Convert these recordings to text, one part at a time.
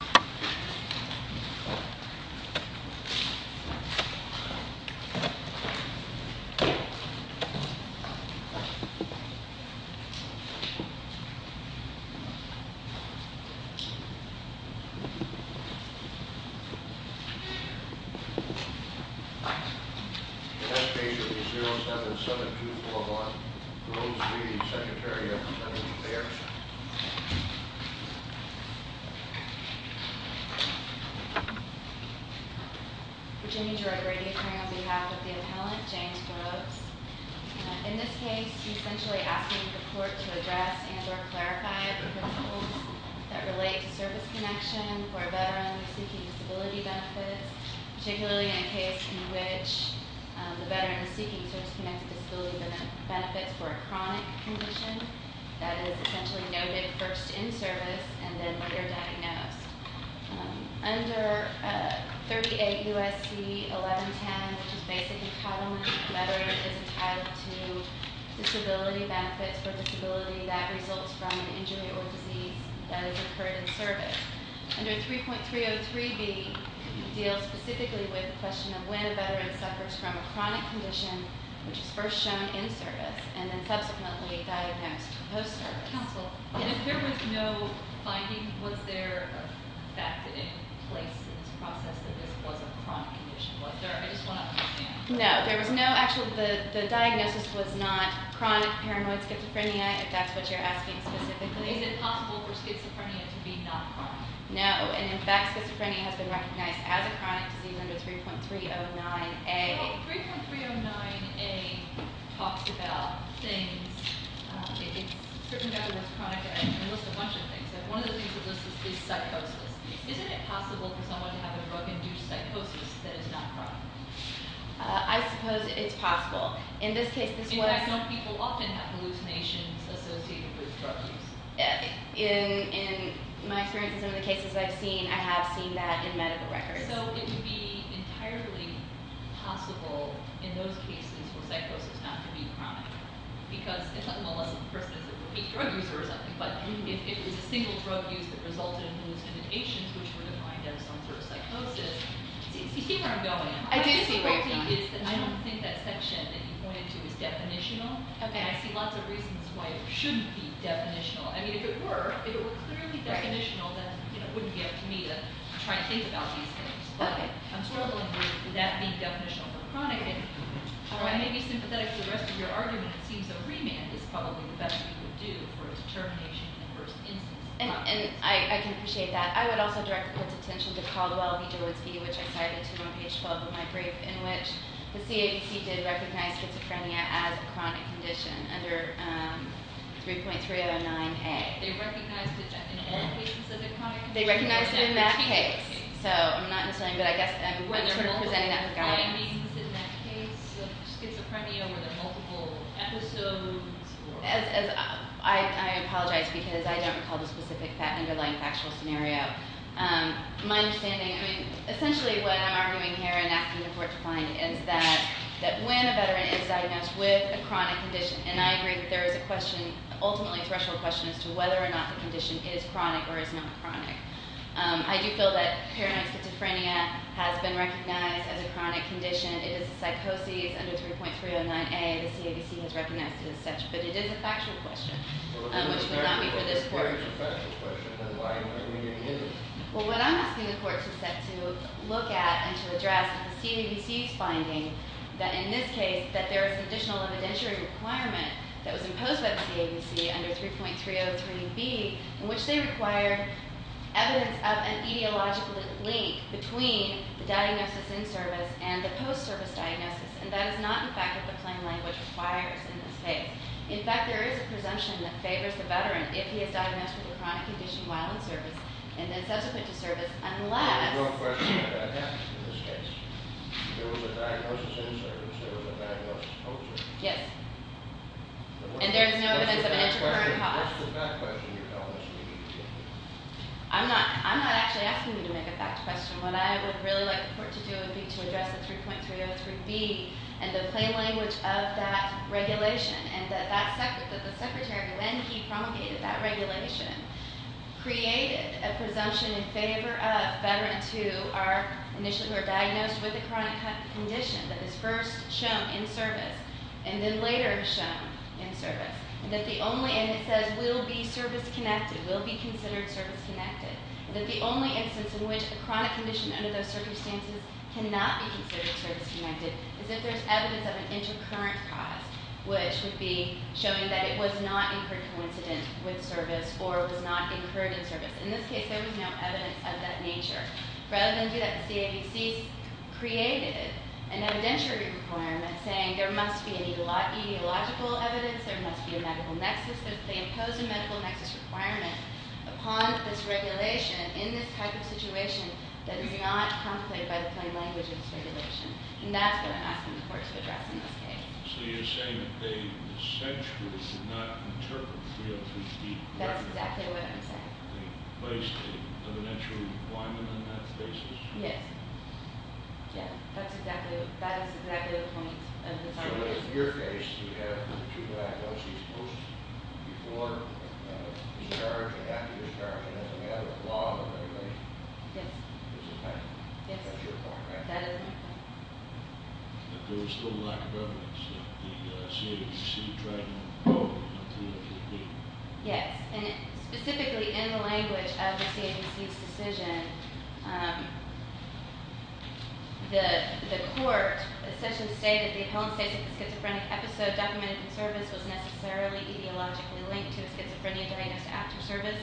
07-7241, Roves v. Secretary of Defense Baird. Virginia Jorge Brady appearing on behalf of the appellant, James Roves. In this case, he's essentially asking the court to address and or clarify the principles that relate to service connection for a veteran seeking disability benefits, particularly in a case in which the veteran is seeking service-connected disability benefits for a chronic condition that is essentially noted first in service and then later diagnosed. Under 38 U.S.C. 1110, which is basic entitlement, a veteran is entitled to disability benefits for a disability that results from an injury or disease that has occurred in service. Under 3.303b deals specifically with the question of when a veteran suffers from a chronic condition which is first shown in service and then subsequently diagnosed post-service. Counsel, if there was no finding, was there a fact in place in this process that this was a chronic condition? Was there? I just want to understand. No, there was no actual, the diagnosis was not chronic paranoid schizophrenia, if that's what you're asking specifically. Is it possible for schizophrenia to be not chronic? No, and in fact, schizophrenia has been recognized as a chronic disease under 3.309a. Well, 3.309a talks about things. It's written down as chronic and lists a bunch of things. One of the things it lists is psychosis. Isn't it possible for someone to have a drug-induced psychosis that is not chronic? I suppose it's possible. In this case, this was- In fact, some people often have hallucinations associated with drug use. In my experience in some of the cases I've seen, I have seen that in medical records. So it would be entirely possible in those cases for psychosis not to be chronic. Because unless the person is a repeat drug user or something, but if it was a single drug use that resulted in hallucinations, which were defined as some sort of psychosis, see where I'm going. I don't think that section that you pointed to is definitional. I see lots of reasons why it shouldn't be definitional. I mean, if it were, if it were clearly definitional, then it wouldn't be up to me to try and think about these things. But I'm struggling with that being definitional for chronic. And while I may be sympathetic to the rest of your argument, it seems that a remand is probably the best thing you would do for a determination in the worst instance. And I can appreciate that. I would also direct the court's attention to Caldwell v. Gillis v., which I cited to you on page 12 of my brief, in which the CABC did recognize schizophrenia as a chronic condition under 3.309A. They recognized it in all cases as a chronic condition? They recognized it in that case. So I'm not insulting, but I guess I'm presenting that with guidance. Were there multiple findings in that case of schizophrenia? Were there multiple episodes? I apologize because I don't recall the specific underlying factual scenario. My understanding, I mean, essentially what I'm arguing here and asking the court to find is that when a veteran is diagnosed with a chronic condition, and I agree that there is a question, ultimately a threshold question, as to whether or not the condition is chronic or is not chronic. I do feel that paranoid schizophrenia has been recognized as a chronic condition. It is a psychosis under 3.309A. The CABC has recognized it as such. But it is a factual question, which will not be for this court. Well, if it is a factual question, then why are you going to be using it? Well, what I'm asking the court to look at and to address is the CABC's finding that in this case, that there is an additional evidentiary requirement that was imposed by the CABC under 3.303B in which they required evidence of an etiological link between the diagnosis in service and the post-service diagnosis. And that is not, in fact, what the plain language requires in this case. In fact, there is a presumption that favors the veteran if he is diagnosed with a chronic condition while in service and then subsequent to service, unless— Yes. And there is no evidence of intracurrent cause. I'm not actually asking you to make a factual question. What I would really like the court to do would be to address the 3.303B and the plain language of that regulation. And that the Secretary, when he promulgated that regulation, created a presumption in favor of veterans who are initially diagnosed with a chronic condition that is first shown in service and then later shown in service. And that the only—and it says will be service-connected, will be considered service-connected. And that the only instance in which a chronic condition under those circumstances cannot be considered service-connected is if there is evidence of an intracurrent cause, which would be showing that it was not incurred coincident with service or was not incurred in service. In this case, there was no evidence of that nature. Rather than do that, the CABC created an evidentiary requirement saying there must be ideological evidence, there must be a medical nexus. They imposed a medical nexus requirement upon this regulation in this type of situation that is not contemplated by the plain language of this regulation. And that's what I'm asking the court to address in this case. So you're saying that they essentially did not interpret 3.033B correctly. That's exactly what I'm saying. They placed an evidentiary requirement on that basis? Yes. Yeah, that's exactly—that is exactly the point of this article. So in your case, you have the two diagnoses posted before discharge and after discharge. It doesn't matter the law of the regulation. Yes. It doesn't matter. Yes. That's your point. That is my point. But there was still lack of evidence that the CABC tried to go beyond 3.033B. Yes. And specifically in the language of the CABC's decision, the court essentially stated the appellant states that the schizophrenic episode documented in service was necessarily etiologically linked to the schizophrenia diagnosed after service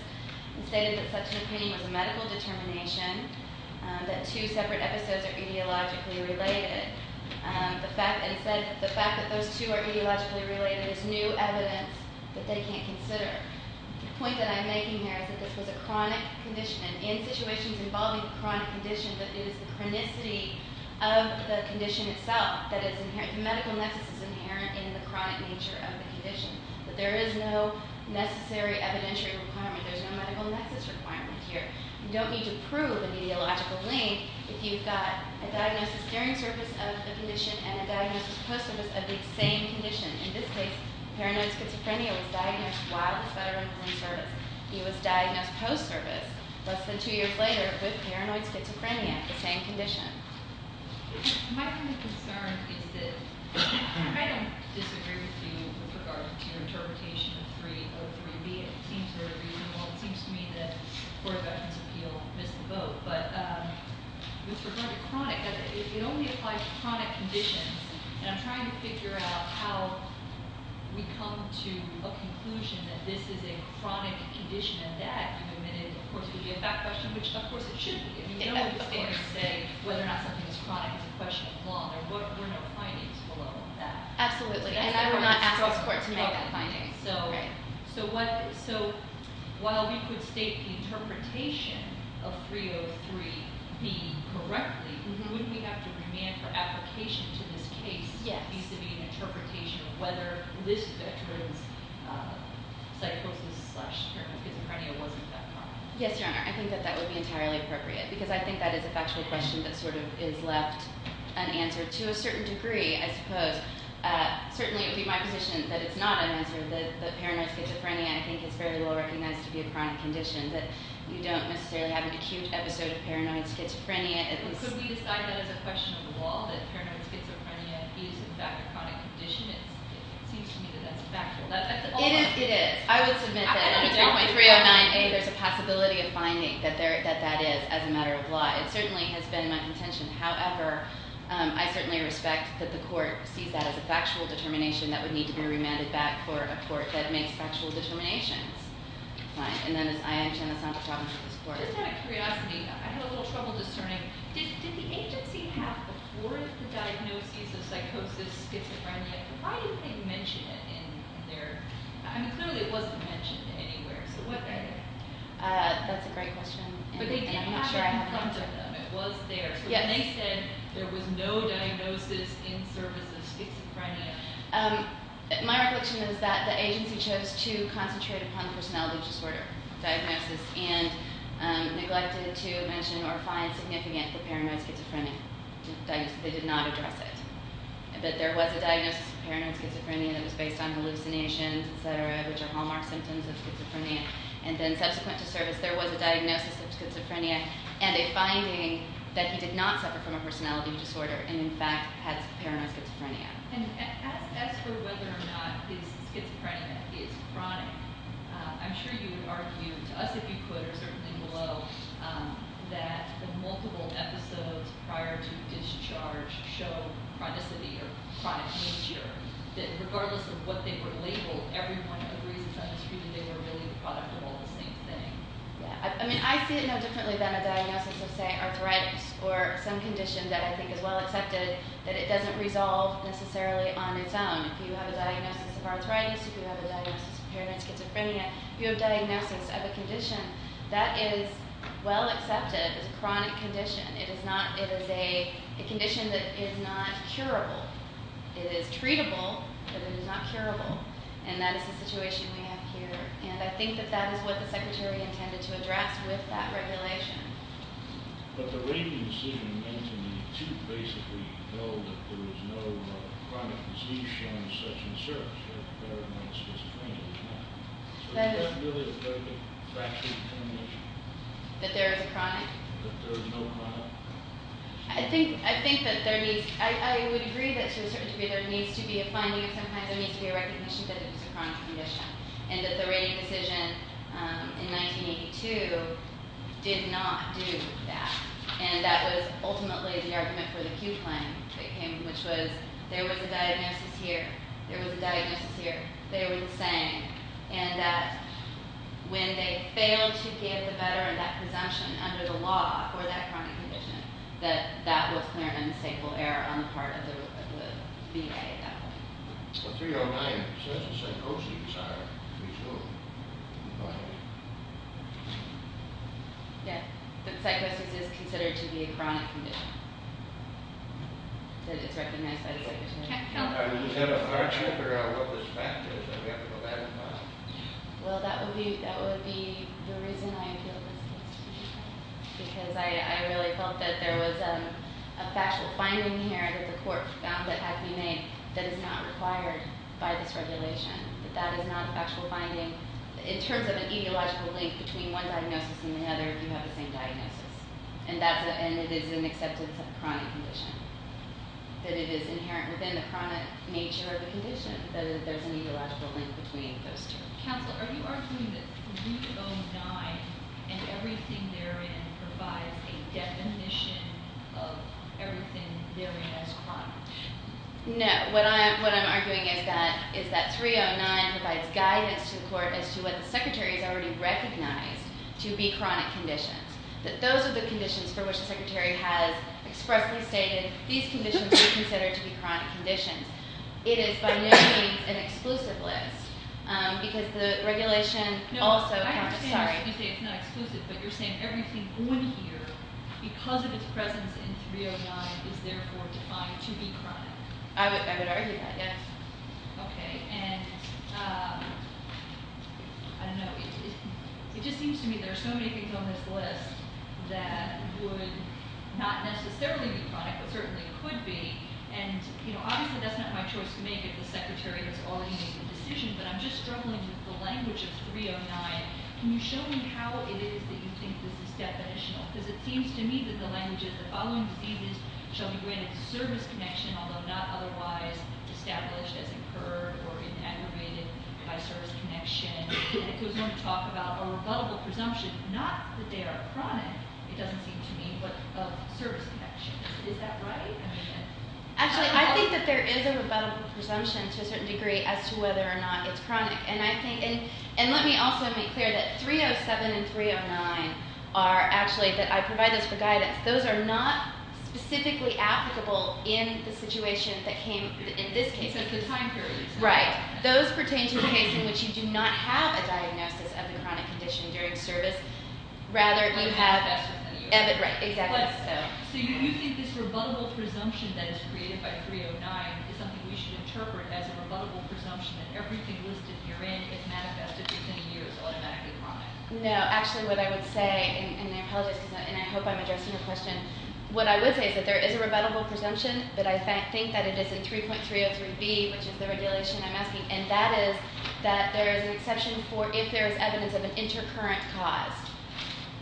and stated that such an opinion was a medical determination, that two separate episodes are etiologically related. And said that the fact that those two are etiologically related is new evidence that they can't consider. The point that I'm making here is that this was a chronic condition, and in situations involving a chronic condition, that it is the chronicity of the condition itself that is inherent— the medical nexus is inherent in the chronic nature of the condition, that there is no necessary evidentiary requirement. There's no medical nexus requirement here. You don't need to prove an etiological link if you've got a diagnosis during service of the condition and a diagnosis post-service of the same condition. In this case, paranoid schizophrenia was diagnosed while the veteran was in service. He was diagnosed post-service, less than two years later, with paranoid schizophrenia, the same condition. My kind of concern is that I don't disagree with you with regard to your interpretation of 3.03B. It seems very reasonable. It seems to me that the Court of Veterans' Appeal missed the boat. But with regard to chronic, it only applies to chronic conditions. And I'm trying to figure out how we come to a conclusion that this is a chronic condition, and that, of course, would be a back question, which, of course, it should be. I mean, no one is going to say whether or not something is chronic is a question of law. There were no findings below that. Absolutely. And I would not ask this Court to make a finding. Right. So while we could state the interpretation of 3.03B correctly, wouldn't we have to demand for application to this case vis-à-vis an interpretation of whether this veteran's psychosis-slash-paranoid schizophrenia wasn't that chronic? Yes, Your Honor, I think that that would be entirely appropriate because I think that is a factual question that sort of is left unanswered to a certain degree, I suppose. Certainly, it would be my position that it's not unanswered, that paranoid schizophrenia, I think, is very well recognized to be a chronic condition, that you don't necessarily have an acute episode of paranoid schizophrenia. Could we decide that as a question of the law, that paranoid schizophrenia is, in fact, a chronic condition? It seems to me that that's factual. It is. I would submit that under 3.309A, there's a possibility of finding that that is as a matter of law. It certainly has been my contention. However, I certainly respect that the court sees that as a factual determination that would need to be remanded back for a court that makes factual determinations. Fine. And then, as I understand, it's not a problem for this court. Just out of curiosity, I had a little trouble discerning, did the agency have before the diagnosis of psychosis schizophrenia, why didn't they mention it in their… I mean, clearly, it wasn't mentioned anywhere, so what… That's a great question, and I'm not sure I have… But they did have it in front of them. It was there. Yes. But they said there was no diagnosis in service of schizophrenia. My reflection is that the agency chose to concentrate upon personality disorder diagnosis and neglected to mention or find significant for paranoid schizophrenia. They did not address it. But there was a diagnosis of paranoid schizophrenia that was based on hallucinations, et cetera, which are hallmark symptoms of schizophrenia. And then subsequent to service, there was a diagnosis of schizophrenia and a finding that he did not suffer from a personality disorder and, in fact, had paranoid schizophrenia. And as for whether or not his schizophrenia is chronic, I'm sure you would argue, to us if you could or certainly below, that the multiple episodes prior to discharge show chronicity or chronic nature, that regardless of what they were labeled, every one of the reasons on the screen, they were really the product of all the same thing. I mean, I see it no differently than a diagnosis of, say, arthritis or some condition that I think is well accepted that it doesn't resolve necessarily on its own. If you have a diagnosis of arthritis, if you have a diagnosis of paranoid schizophrenia, if you have a diagnosis of a condition that is well accepted as a chronic condition, it is a condition that is not curable. It is treatable, but it is not curable. And that is the situation we have here. And I think that that is what the Secretary intended to address with that regulation. But the rating decision meant to me to basically know that there is no chronic condition such as SIRS, or paranoid schizophrenia. Is that really a factual determination? That there is a chronic? That there is no chronic. I think that there needs to be a finding. Sometimes there needs to be a recognition that it is a chronic condition and that the rating decision in 1982 did not do that. And that was ultimately the argument for the Pew claim that came, which was there was a diagnosis here, there was a diagnosis here, they were the same, and that when they failed to give the veteran that presumption under the law for that chronic condition, that that was clear and unmistakable error on the part of the VA at that point. Well, 309 says psychosis, I presume. Go ahead. Yes. That psychosis is considered to be a chronic condition. That it is recognized by the Secretary. Do you have an argument for what this fact is? Or do you have to go back in time? Well, that would be the reason I appeal this case to you, because I really felt that there was a factual finding here that the court found that had to be made that is not required by this regulation, that that is not a factual finding. In terms of an etiological link between one diagnosis and another, you have the same diagnosis. And it is an acceptance of a chronic condition, that it is inherent within the chronic nature of the condition, that there's an etiological link between those two. Counselor, are you arguing that 309 and everything therein provides a definition of everything therein as chronic? No. What I'm arguing is that 309 provides guidance to the court as to what the Secretary has already recognized to be chronic conditions, that those are the conditions for which the Secretary has expressly stated these conditions are considered to be chronic conditions. It is by no means an exclusive list, because the regulation also... No, I understand you say it's not exclusive, but you're saying everything on here, because of its presence in 309, is therefore defined to be chronic. I would argue that, yes. Okay, and I don't know, it just seems to me there are so many things on this list that would not necessarily be chronic, but certainly could be, and obviously that's not my choice to make if the Secretary has already made the decision, but I'm just struggling with the language of 309. Can you show me how it is that you think this is definitional? Because it seems to me that the language is, the following diseases shall be granted service connection, although not otherwise established as incurred or aggravated by service connection. And it goes on to talk about a rebuttable presumption, not that they are chronic, it doesn't seem to me, but of service connection. Is that right? Actually, I think that there is a rebuttable presumption to a certain degree as to whether or not it's chronic. And let me also make clear that 307 and 309 are actually, that I provide this for guidance, those are not specifically applicable in the situation that came, in this case. Except the time period. Right. Those pertain to the case in which you do not have a diagnosis of the chronic condition during service, rather you have, right, exactly. So you think this rebuttable presumption that is created by 309 is something we should interpret as a rebuttable presumption that everything listed herein is manifested within you as automatically chronic? No. Actually, what I would say, and I apologize, and I hope I'm addressing your question, what I would say is that there is a rebuttable presumption, but I think that it is in 3.303B, which is the regulation I'm asking, and that is that there is an exception for if there is evidence of an intercurrent cause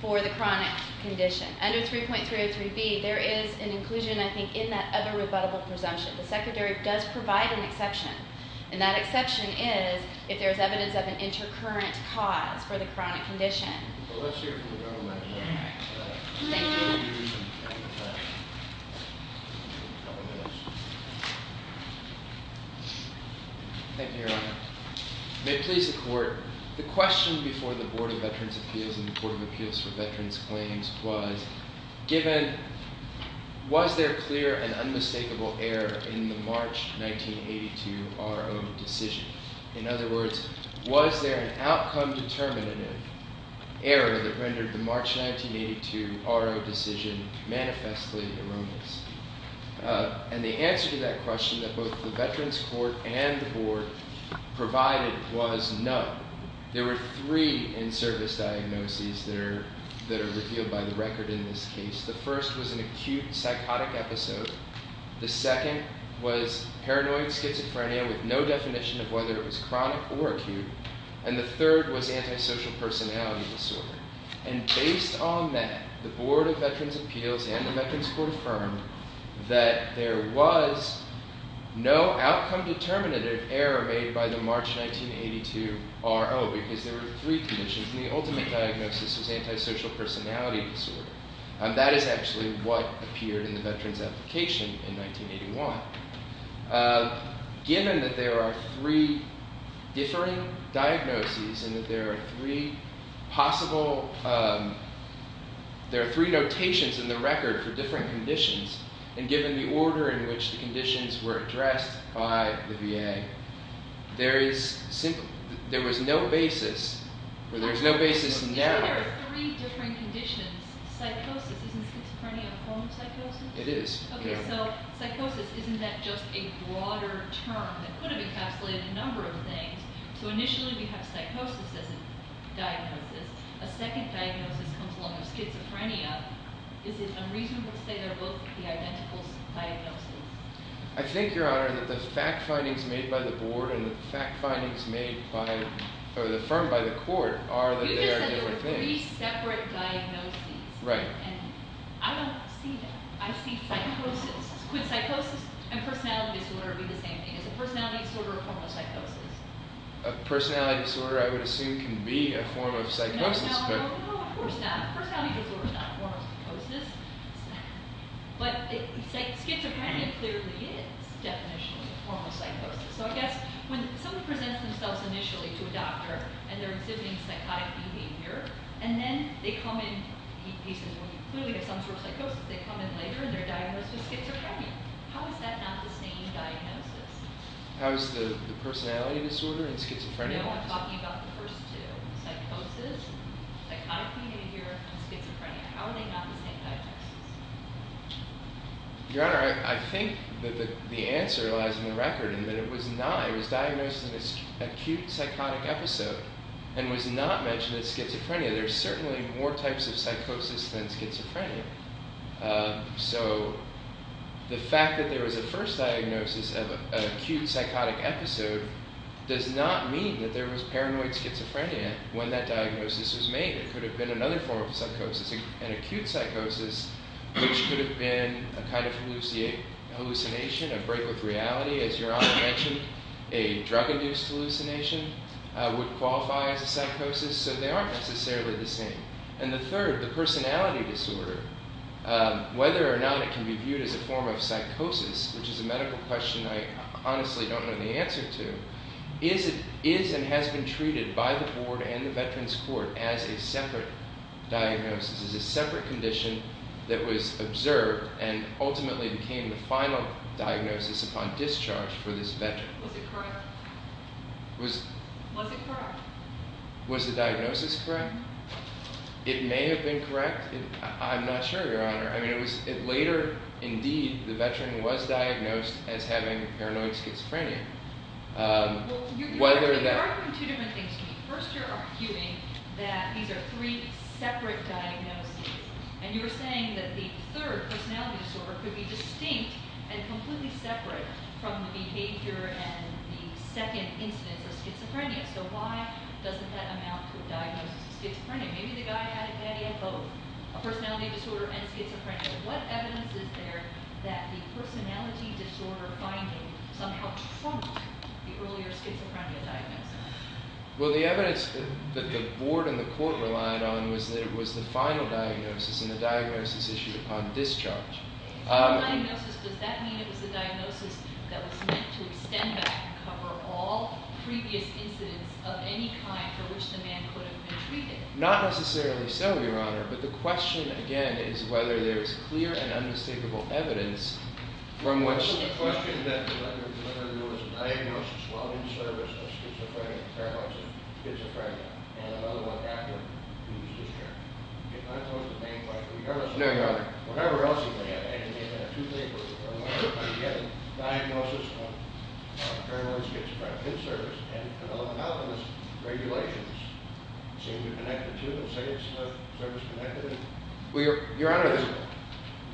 for the chronic condition. Under 3.303B, there is an inclusion, I think, in that other rebuttable presumption. The secondary does provide an exception, and that exception is if there is evidence of an intercurrent cause for the chronic condition. Well, let's hear from the gentleman. Thank you. Thank you, Your Honor. May it please the Court, the question before the Board of Veterans' Appeals and the Board of Appeals for Veterans' Claims was, was there clear and unmistakable error in the March 1982 R.O. decision? In other words, was there an outcome-determinative error that rendered the March 1982 R.O. decision manifestly erroneous? And the answer to that question that both the Veterans' Court and the Board provided was no. There were three in-service diagnoses that are revealed by the record in this case. The first was an acute psychotic episode. The second was paranoid schizophrenia with no definition of whether it was chronic or acute. And the third was antisocial personality disorder. And based on that, the Board of Veterans' Appeals and the Veterans' Court affirmed that there was no outcome-determinative error made by the March 1982 R.O. because there were three conditions, and the ultimate diagnosis was antisocial personality disorder. That is actually what appeared in the Veterans' Application in 1981. Given that there are three differing diagnoses and that there are three possible, there are three notations in the record for different conditions, and given the order in which the conditions were addressed by the VA, there is simply, there was no basis, or there is no basis now. There are three different conditions. Psychosis, isn't schizophrenia a form of psychosis? It is. Okay, so psychosis, isn't that just a broader term that could have encapsulated a number of things? So initially we have psychosis as a diagnosis. A second diagnosis comes along with schizophrenia. Is it unreasonable to say they're both the identical diagnosis? I think, Your Honor, that the fact findings made by the Board and the fact findings made by, or affirmed by the Court are that they are different things. You just said there were three separate diagnoses. Right. And I don't see that. I see psychosis. Could psychosis and personality disorder be the same thing? Is a personality disorder a form of psychosis? A personality disorder, I would assume, can be a form of psychosis. No, of course not. A personality disorder is not a form of psychosis. But schizophrenia clearly is, definitionally, a form of psychosis. So I guess when someone presents themselves initially to a doctor, and they're exhibiting psychotic behavior, and then they come in, he says, well, you clearly have some sort of psychosis. They come in later, and they're diagnosed with schizophrenia. How is that not the same diagnosis? How is the personality disorder and schizophrenia not the same? No, I'm talking about the first two, psychosis, psychotic behavior, and schizophrenia. How are they not the same diagnosis? Your Honor, I think that the answer lies in the record, in that it was diagnosed in an acute psychotic episode and was not mentioned as schizophrenia. There are certainly more types of psychosis than schizophrenia. So the fact that there was a first diagnosis of an acute psychotic episode does not mean that there was paranoid schizophrenia when that diagnosis was made. It could have been another form of psychosis, an acute psychosis, which could have been a kind of hallucination, a break with reality. As Your Honor mentioned, a drug-induced hallucination would qualify as a psychosis. So they aren't necessarily the same. And the third, the personality disorder, whether or not it can be viewed as a form of psychosis, which is a medical question I honestly don't know the answer to, is and has been treated by the Board and the Veterans Court as a separate diagnosis, as a separate condition that was observed and ultimately became the final diagnosis upon discharge for this veteran. Was it correct? Was it correct? Was the diagnosis correct? It may have been correct. I'm not sure, Your Honor. Later, indeed, the veteran was diagnosed as having paranoid schizophrenia. Well, you're arguing two different things. First, you're arguing that these are three separate diagnoses. And you were saying that the third, personality disorder, could be distinct and completely separate from the behavior and the second incidence of schizophrenia. So why doesn't that amount to a diagnosis of schizophrenia? Maybe the guy had it bad, he had both, a personality disorder and schizophrenia. What evidence is there that the personality disorder finding somehow trumped the earlier schizophrenia diagnosis? Well, the evidence that the Board and the Court relied on was that it was the final diagnosis, and the diagnosis issued upon discharge. Final diagnosis, does that mean it was a diagnosis that was meant to extend back and cover all previous incidents of any kind for which the man could have been treated? Not necessarily so, Your Honor. But the question, again, is whether there is clear and unmistakable evidence from which... The question is whether there was a diagnosis while in service of schizophrenia, and another one after he was discharged. If that was the main question... No, Your Honor. Whatever else you may have, and you may have two papers, but when you get a diagnosis of paranoid schizophrenic in service, and develop an alchemist, regulations seem to connect the two and say it's service-connected. Your Honor,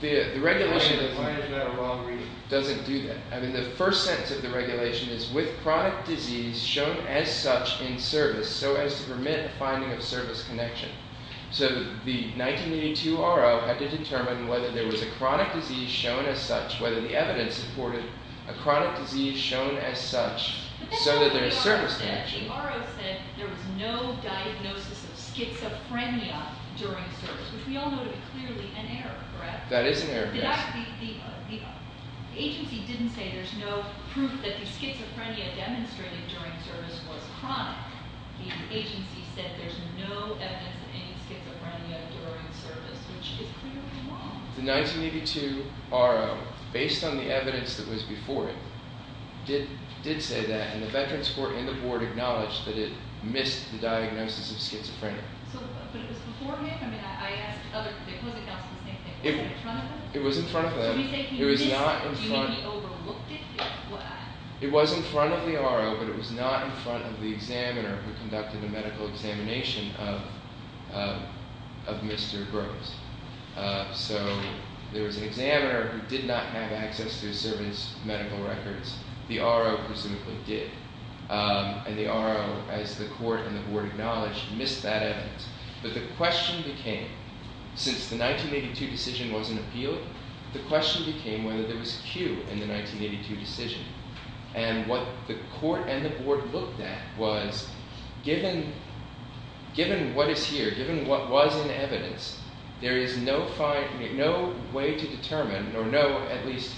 the regulation... Why is that a wrong reading? It doesn't do that. I mean, the first sentence of the regulation is, with chronic disease shown as such in service so as to permit the finding of service connection. So the 1982 R.O. had to determine whether there was a chronic disease shown as such, whether the evidence supported a chronic disease shown as such so that there is service connection. The R.O. said there was no diagnosis of schizophrenia during service, which we all know to be clearly an error, correct? That is an error, yes. The agency didn't say there's no proof that the schizophrenia demonstrated during service was chronic. The agency said there's no evidence of any schizophrenia during service, which is clearly wrong. The 1982 R.O., based on the evidence that was before it, did say that, and the Veterans Court and the Board acknowledged that it missed the diagnosis of schizophrenia. So, but it was before him? I mean, I asked the opposing counsel the same thing. Was it in front of them? It was in front of them. Did he say he overlooked it? It was in front of the R.O., but it was not in front of the examiner who conducted a medical examination of Mr. Gross. So there was an examiner who did not have access to his service medical records. The R.O. presumably did. And the R.O., as the Court and the Board acknowledged, missed that evidence. But the question became, since the 1982 decision wasn't appealed, the question became whether there was cue in the 1982 decision. And what the Court and the Board looked at was, given what is here, given what was in evidence, there is no way to determine, or no at least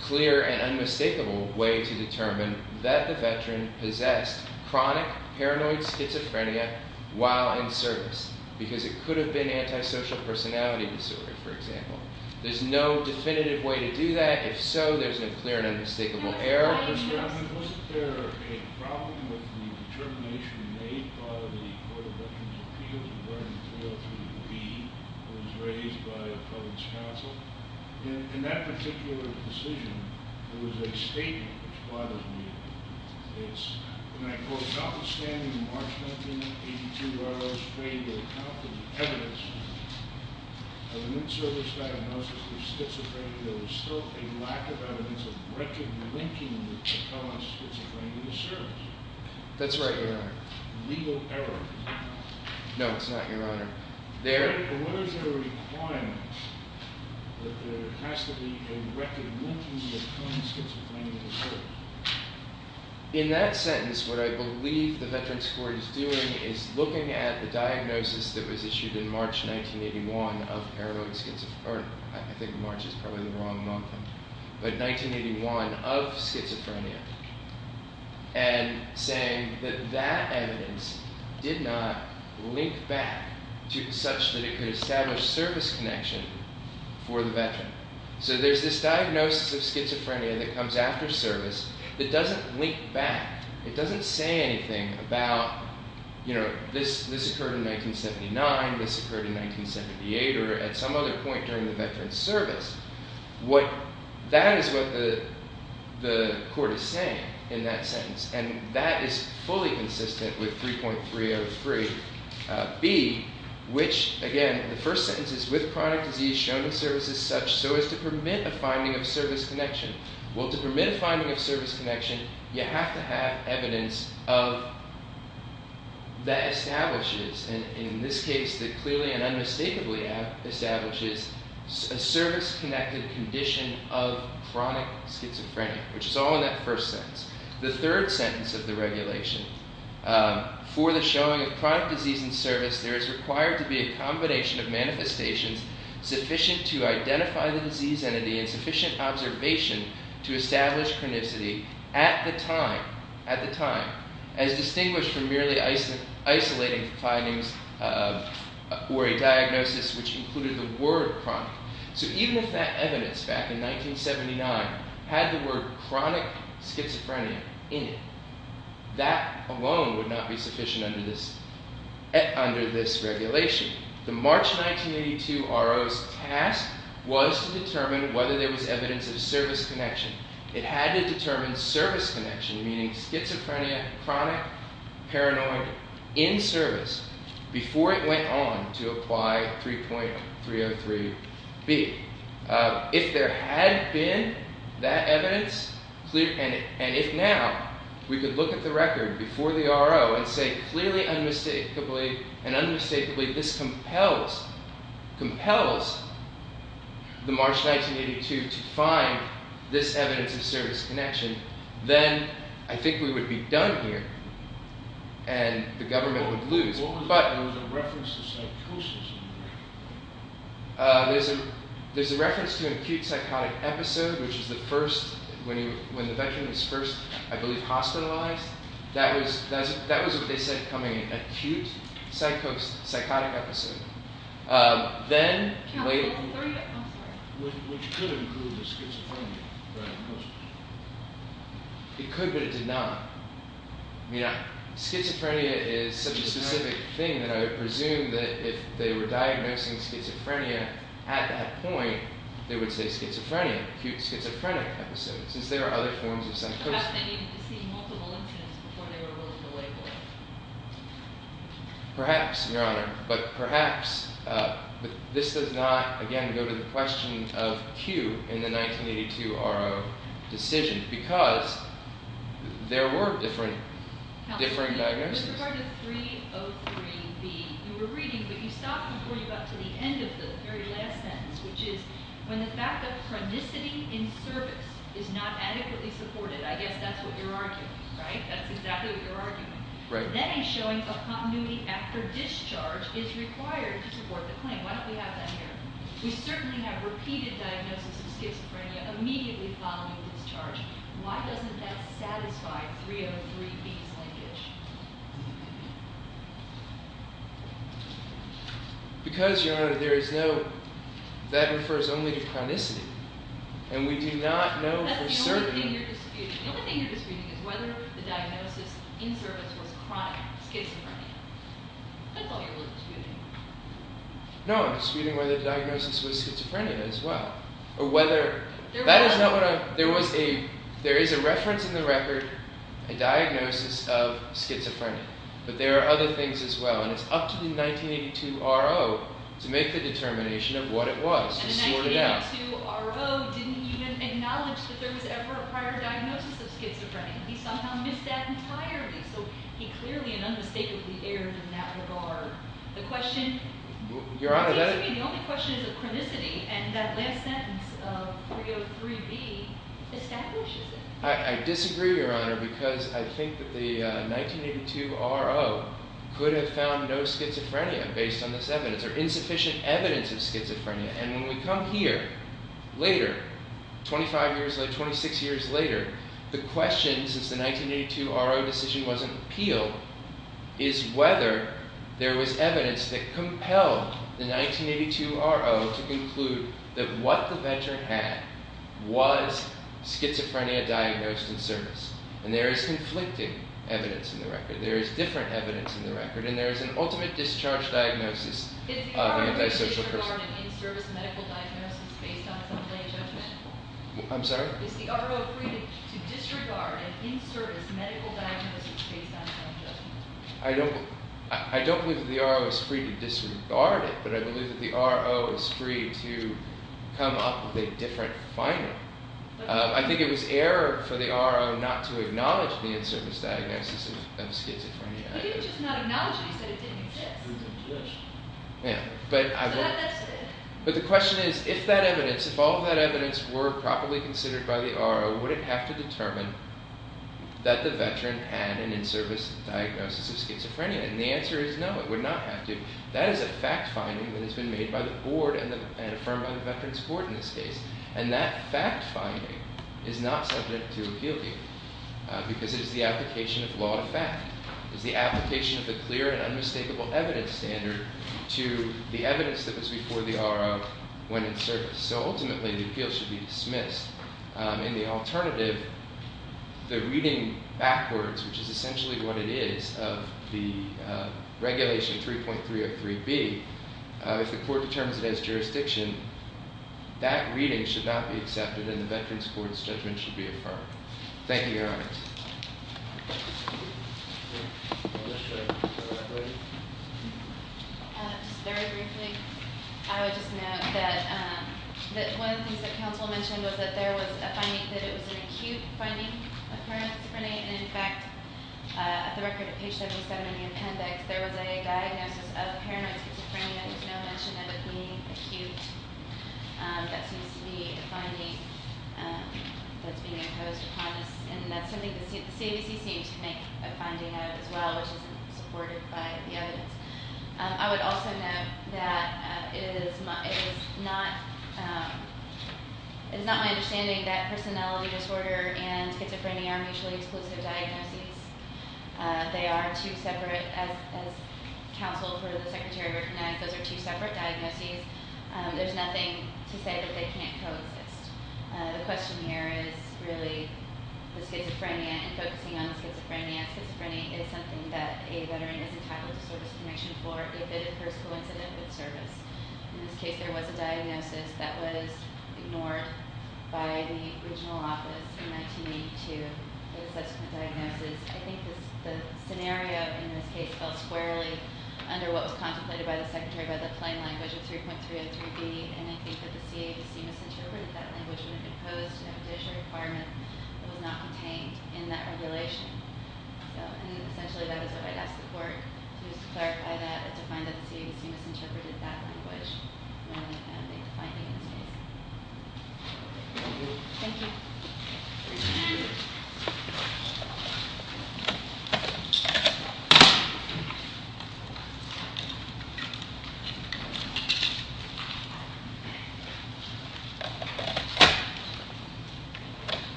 clear and unmistakable way to determine, that the veteran possessed chronic paranoid schizophrenia while in service. Because it could have been antisocial personality disorder, for example. There's no definitive way to do that. If so, there's no clear and unmistakable error. Mr. Chairman, wasn't there a problem with the determination made by the Court of Veterans Appeals regarding 303B, that was raised by the public's counsel? In that particular decision, there was a statement which bothers me. It's, when I quote, Without the standing enlargement in the 1982 R.O.'s fable, without the evidence of an in-service diagnosis of schizophrenia, there was still a lack of evidence of record linking the chronic schizophrenia to service. That's right, Your Honor. Legal error. No, it's not, Your Honor. There... But what is the requirement that there has to be a record linking the chronic schizophrenia to service? In that sentence, what I believe the Veterans Court is doing is looking at the diagnosis that was issued in March 1981 of R.O. schizophrenia. I think March is probably the wrong month. But 1981 of schizophrenia. And saying that that evidence did not link back to such that it could establish service connection for the veteran. So there's this diagnosis of schizophrenia that comes after service that doesn't link back. It doesn't say anything about, you know, this occurred in 1979, this occurred in 1978, or at some other point during the veteran's service. That is what the court is saying in that sentence. And that is fully consistent with 3.303b, which, again, the first sentence is, With chronic disease shown in service as such, so as to permit a finding of service connection. Well, to permit a finding of service connection, you have to have evidence of that establishes, in this case, that clearly and unmistakably establishes a service-connected condition of chronic schizophrenia, which is all in that first sentence. The third sentence of the regulation, for the showing of chronic disease in service, there is required to be a combination of manifestations sufficient to identify the disease entity and sufficient observation to establish chronicity at the time, at the time, as distinguished from merely isolating findings or a diagnosis which included the word chronic. So even if that evidence back in 1979 had the word chronic schizophrenia in it, that alone would not be sufficient under this regulation. The March 1982 RO's task was to determine whether there was evidence of service connection. It had to determine service connection, meaning schizophrenia, chronic, paranoid, in service, before it went on to apply 3.303B. If there had been that evidence, and if now we could look at the record before the RO and say clearly and unmistakably this compels the March 1982 to find this evidence of service connection, then I think we would be done here, and the government would lose. What was the reference to psychosis in there? There's a reference to an acute psychotic episode, which is the first, when the veteran is first, I believe, hospitalized. That was what they said coming in, acute psychotic episode. Which could have included schizophrenia. It could, but it did not. Schizophrenia is such a specific thing that I would presume that if they were diagnosing schizophrenia at that point, they would say schizophrenia, acute schizophrenic episode, since there are other forms of psychosis. Perhaps they needed to see multiple incidents before they were able to label it. Perhaps, Your Honor, but perhaps this does not, again, go to the question of Q in the 1982 RO decision, because there were different diagnoses. With regard to 3.03B, you were reading, but you stopped before you got to the end of the very last sentence, which is when the fact that chronicity in service is not adequately supported, I guess that's what you're arguing, right? That's exactly what you're arguing. Right. That is showing a continuity after discharge is required to support the claim. Why don't we have that here? We certainly have repeated diagnoses of schizophrenia immediately following discharge. Why doesn't that satisfy 3.03B's language? Because, Your Honor, there is no, that refers only to chronicity, and we do not know for certain. The only thing you're disputing is whether the diagnosis in service was chronic, schizophrenia. That's all you're really disputing. No, I'm disputing whether the diagnosis was schizophrenia as well, or whether, that is not what I, there was a, there is a reference in the record, a diagnosis of schizophrenia, but there are other things as well, and it's up to the 1982 RO to make the determination of what it was and sort it out. The 1982 RO didn't even acknowledge that there was ever a prior diagnosis of schizophrenia. He somehow missed that entirely, so he clearly and unmistakably erred in that regard. The question, it seems to me the only question is of chronicity, and that last sentence of 3.03B establishes it. I disagree, Your Honor, because I think that the 1982 RO could have found no schizophrenia based on this evidence, or insufficient evidence of schizophrenia, and when we come here later, 25 years later, 26 years later, the question, since the 1982 RO decision wasn't appealed, is whether there was evidence that compelled the 1982 RO to conclude that what the veteran had was schizophrenia diagnosed in service, and there is conflicting evidence in the record, there is different evidence in the record, and there is an ultimate discharge diagnosis of an antisocial person. Is the RO free to disregard an in-service medical diagnosis based on some lay judgment? I'm sorry? Is the RO free to disregard an in-service medical diagnosis based on some judgment? I don't believe that the RO is free to disregard it, but I believe that the RO is free to come up with a different finding. I think it was error for the RO not to acknowledge the in-service diagnosis of schizophrenia. He didn't just not acknowledge it, he said it didn't exist. But the question is, if that evidence, if all of that evidence were properly considered by the RO, would it have to determine that the veteran had an in-service diagnosis of schizophrenia? And the answer is no, it would not have to. That is a fact-finding that has been made by the board and affirmed by the veteran's board in this case, and that fact-finding is not subject to appeal here, because it is the application of law to fact. It's the application of the clear and unmistakable evidence standard to the evidence that was before the RO when it surfaced. So ultimately, the appeal should be dismissed. And the alternative, the reading backwards, which is essentially what it is, of the regulation 3.303B, if the court determines it as jurisdiction, that reading should not be accepted and the veteran's court's judgment should be affirmed. Thank you, Your Honor. Just very briefly, I would just note that one of the things that counsel mentioned was that there was a finding, that it was an acute finding of paranoid schizophrenia. And, in fact, at the record of page 77 in the appendix, there was a diagnosis of paranoid schizophrenia. There's no mention of it being acute. That seems to be a finding that's being imposed upon us, and that's something the CABC seems to make a finding of as well, which isn't supported by the evidence. I would also note that it is not my understanding that personality disorder and schizophrenia are mutually exclusive diagnoses. They are two separate, as counsel for the Secretary recognized, those are two separate diagnoses. There's nothing to say that they can't coexist. The question here is really the schizophrenia and focusing on schizophrenia. Schizophrenia is something that a veteran is entitled to service permission for if it occurs coincident with service. In this case, there was a diagnosis that was ignored by the original office in 1982, the subsequent diagnosis. I think the scenario in this case fell squarely under what was contemplated by the Secretary by the plain language of 3.303B, and I think that the CABC misinterpreted that language when it imposed an additional requirement that was not contained in that regulation. Essentially, that is what I'd ask the Court, to clarify that and to find that the CABC misinterpreted that language when they made the finding in this case. Thank you. Thank you.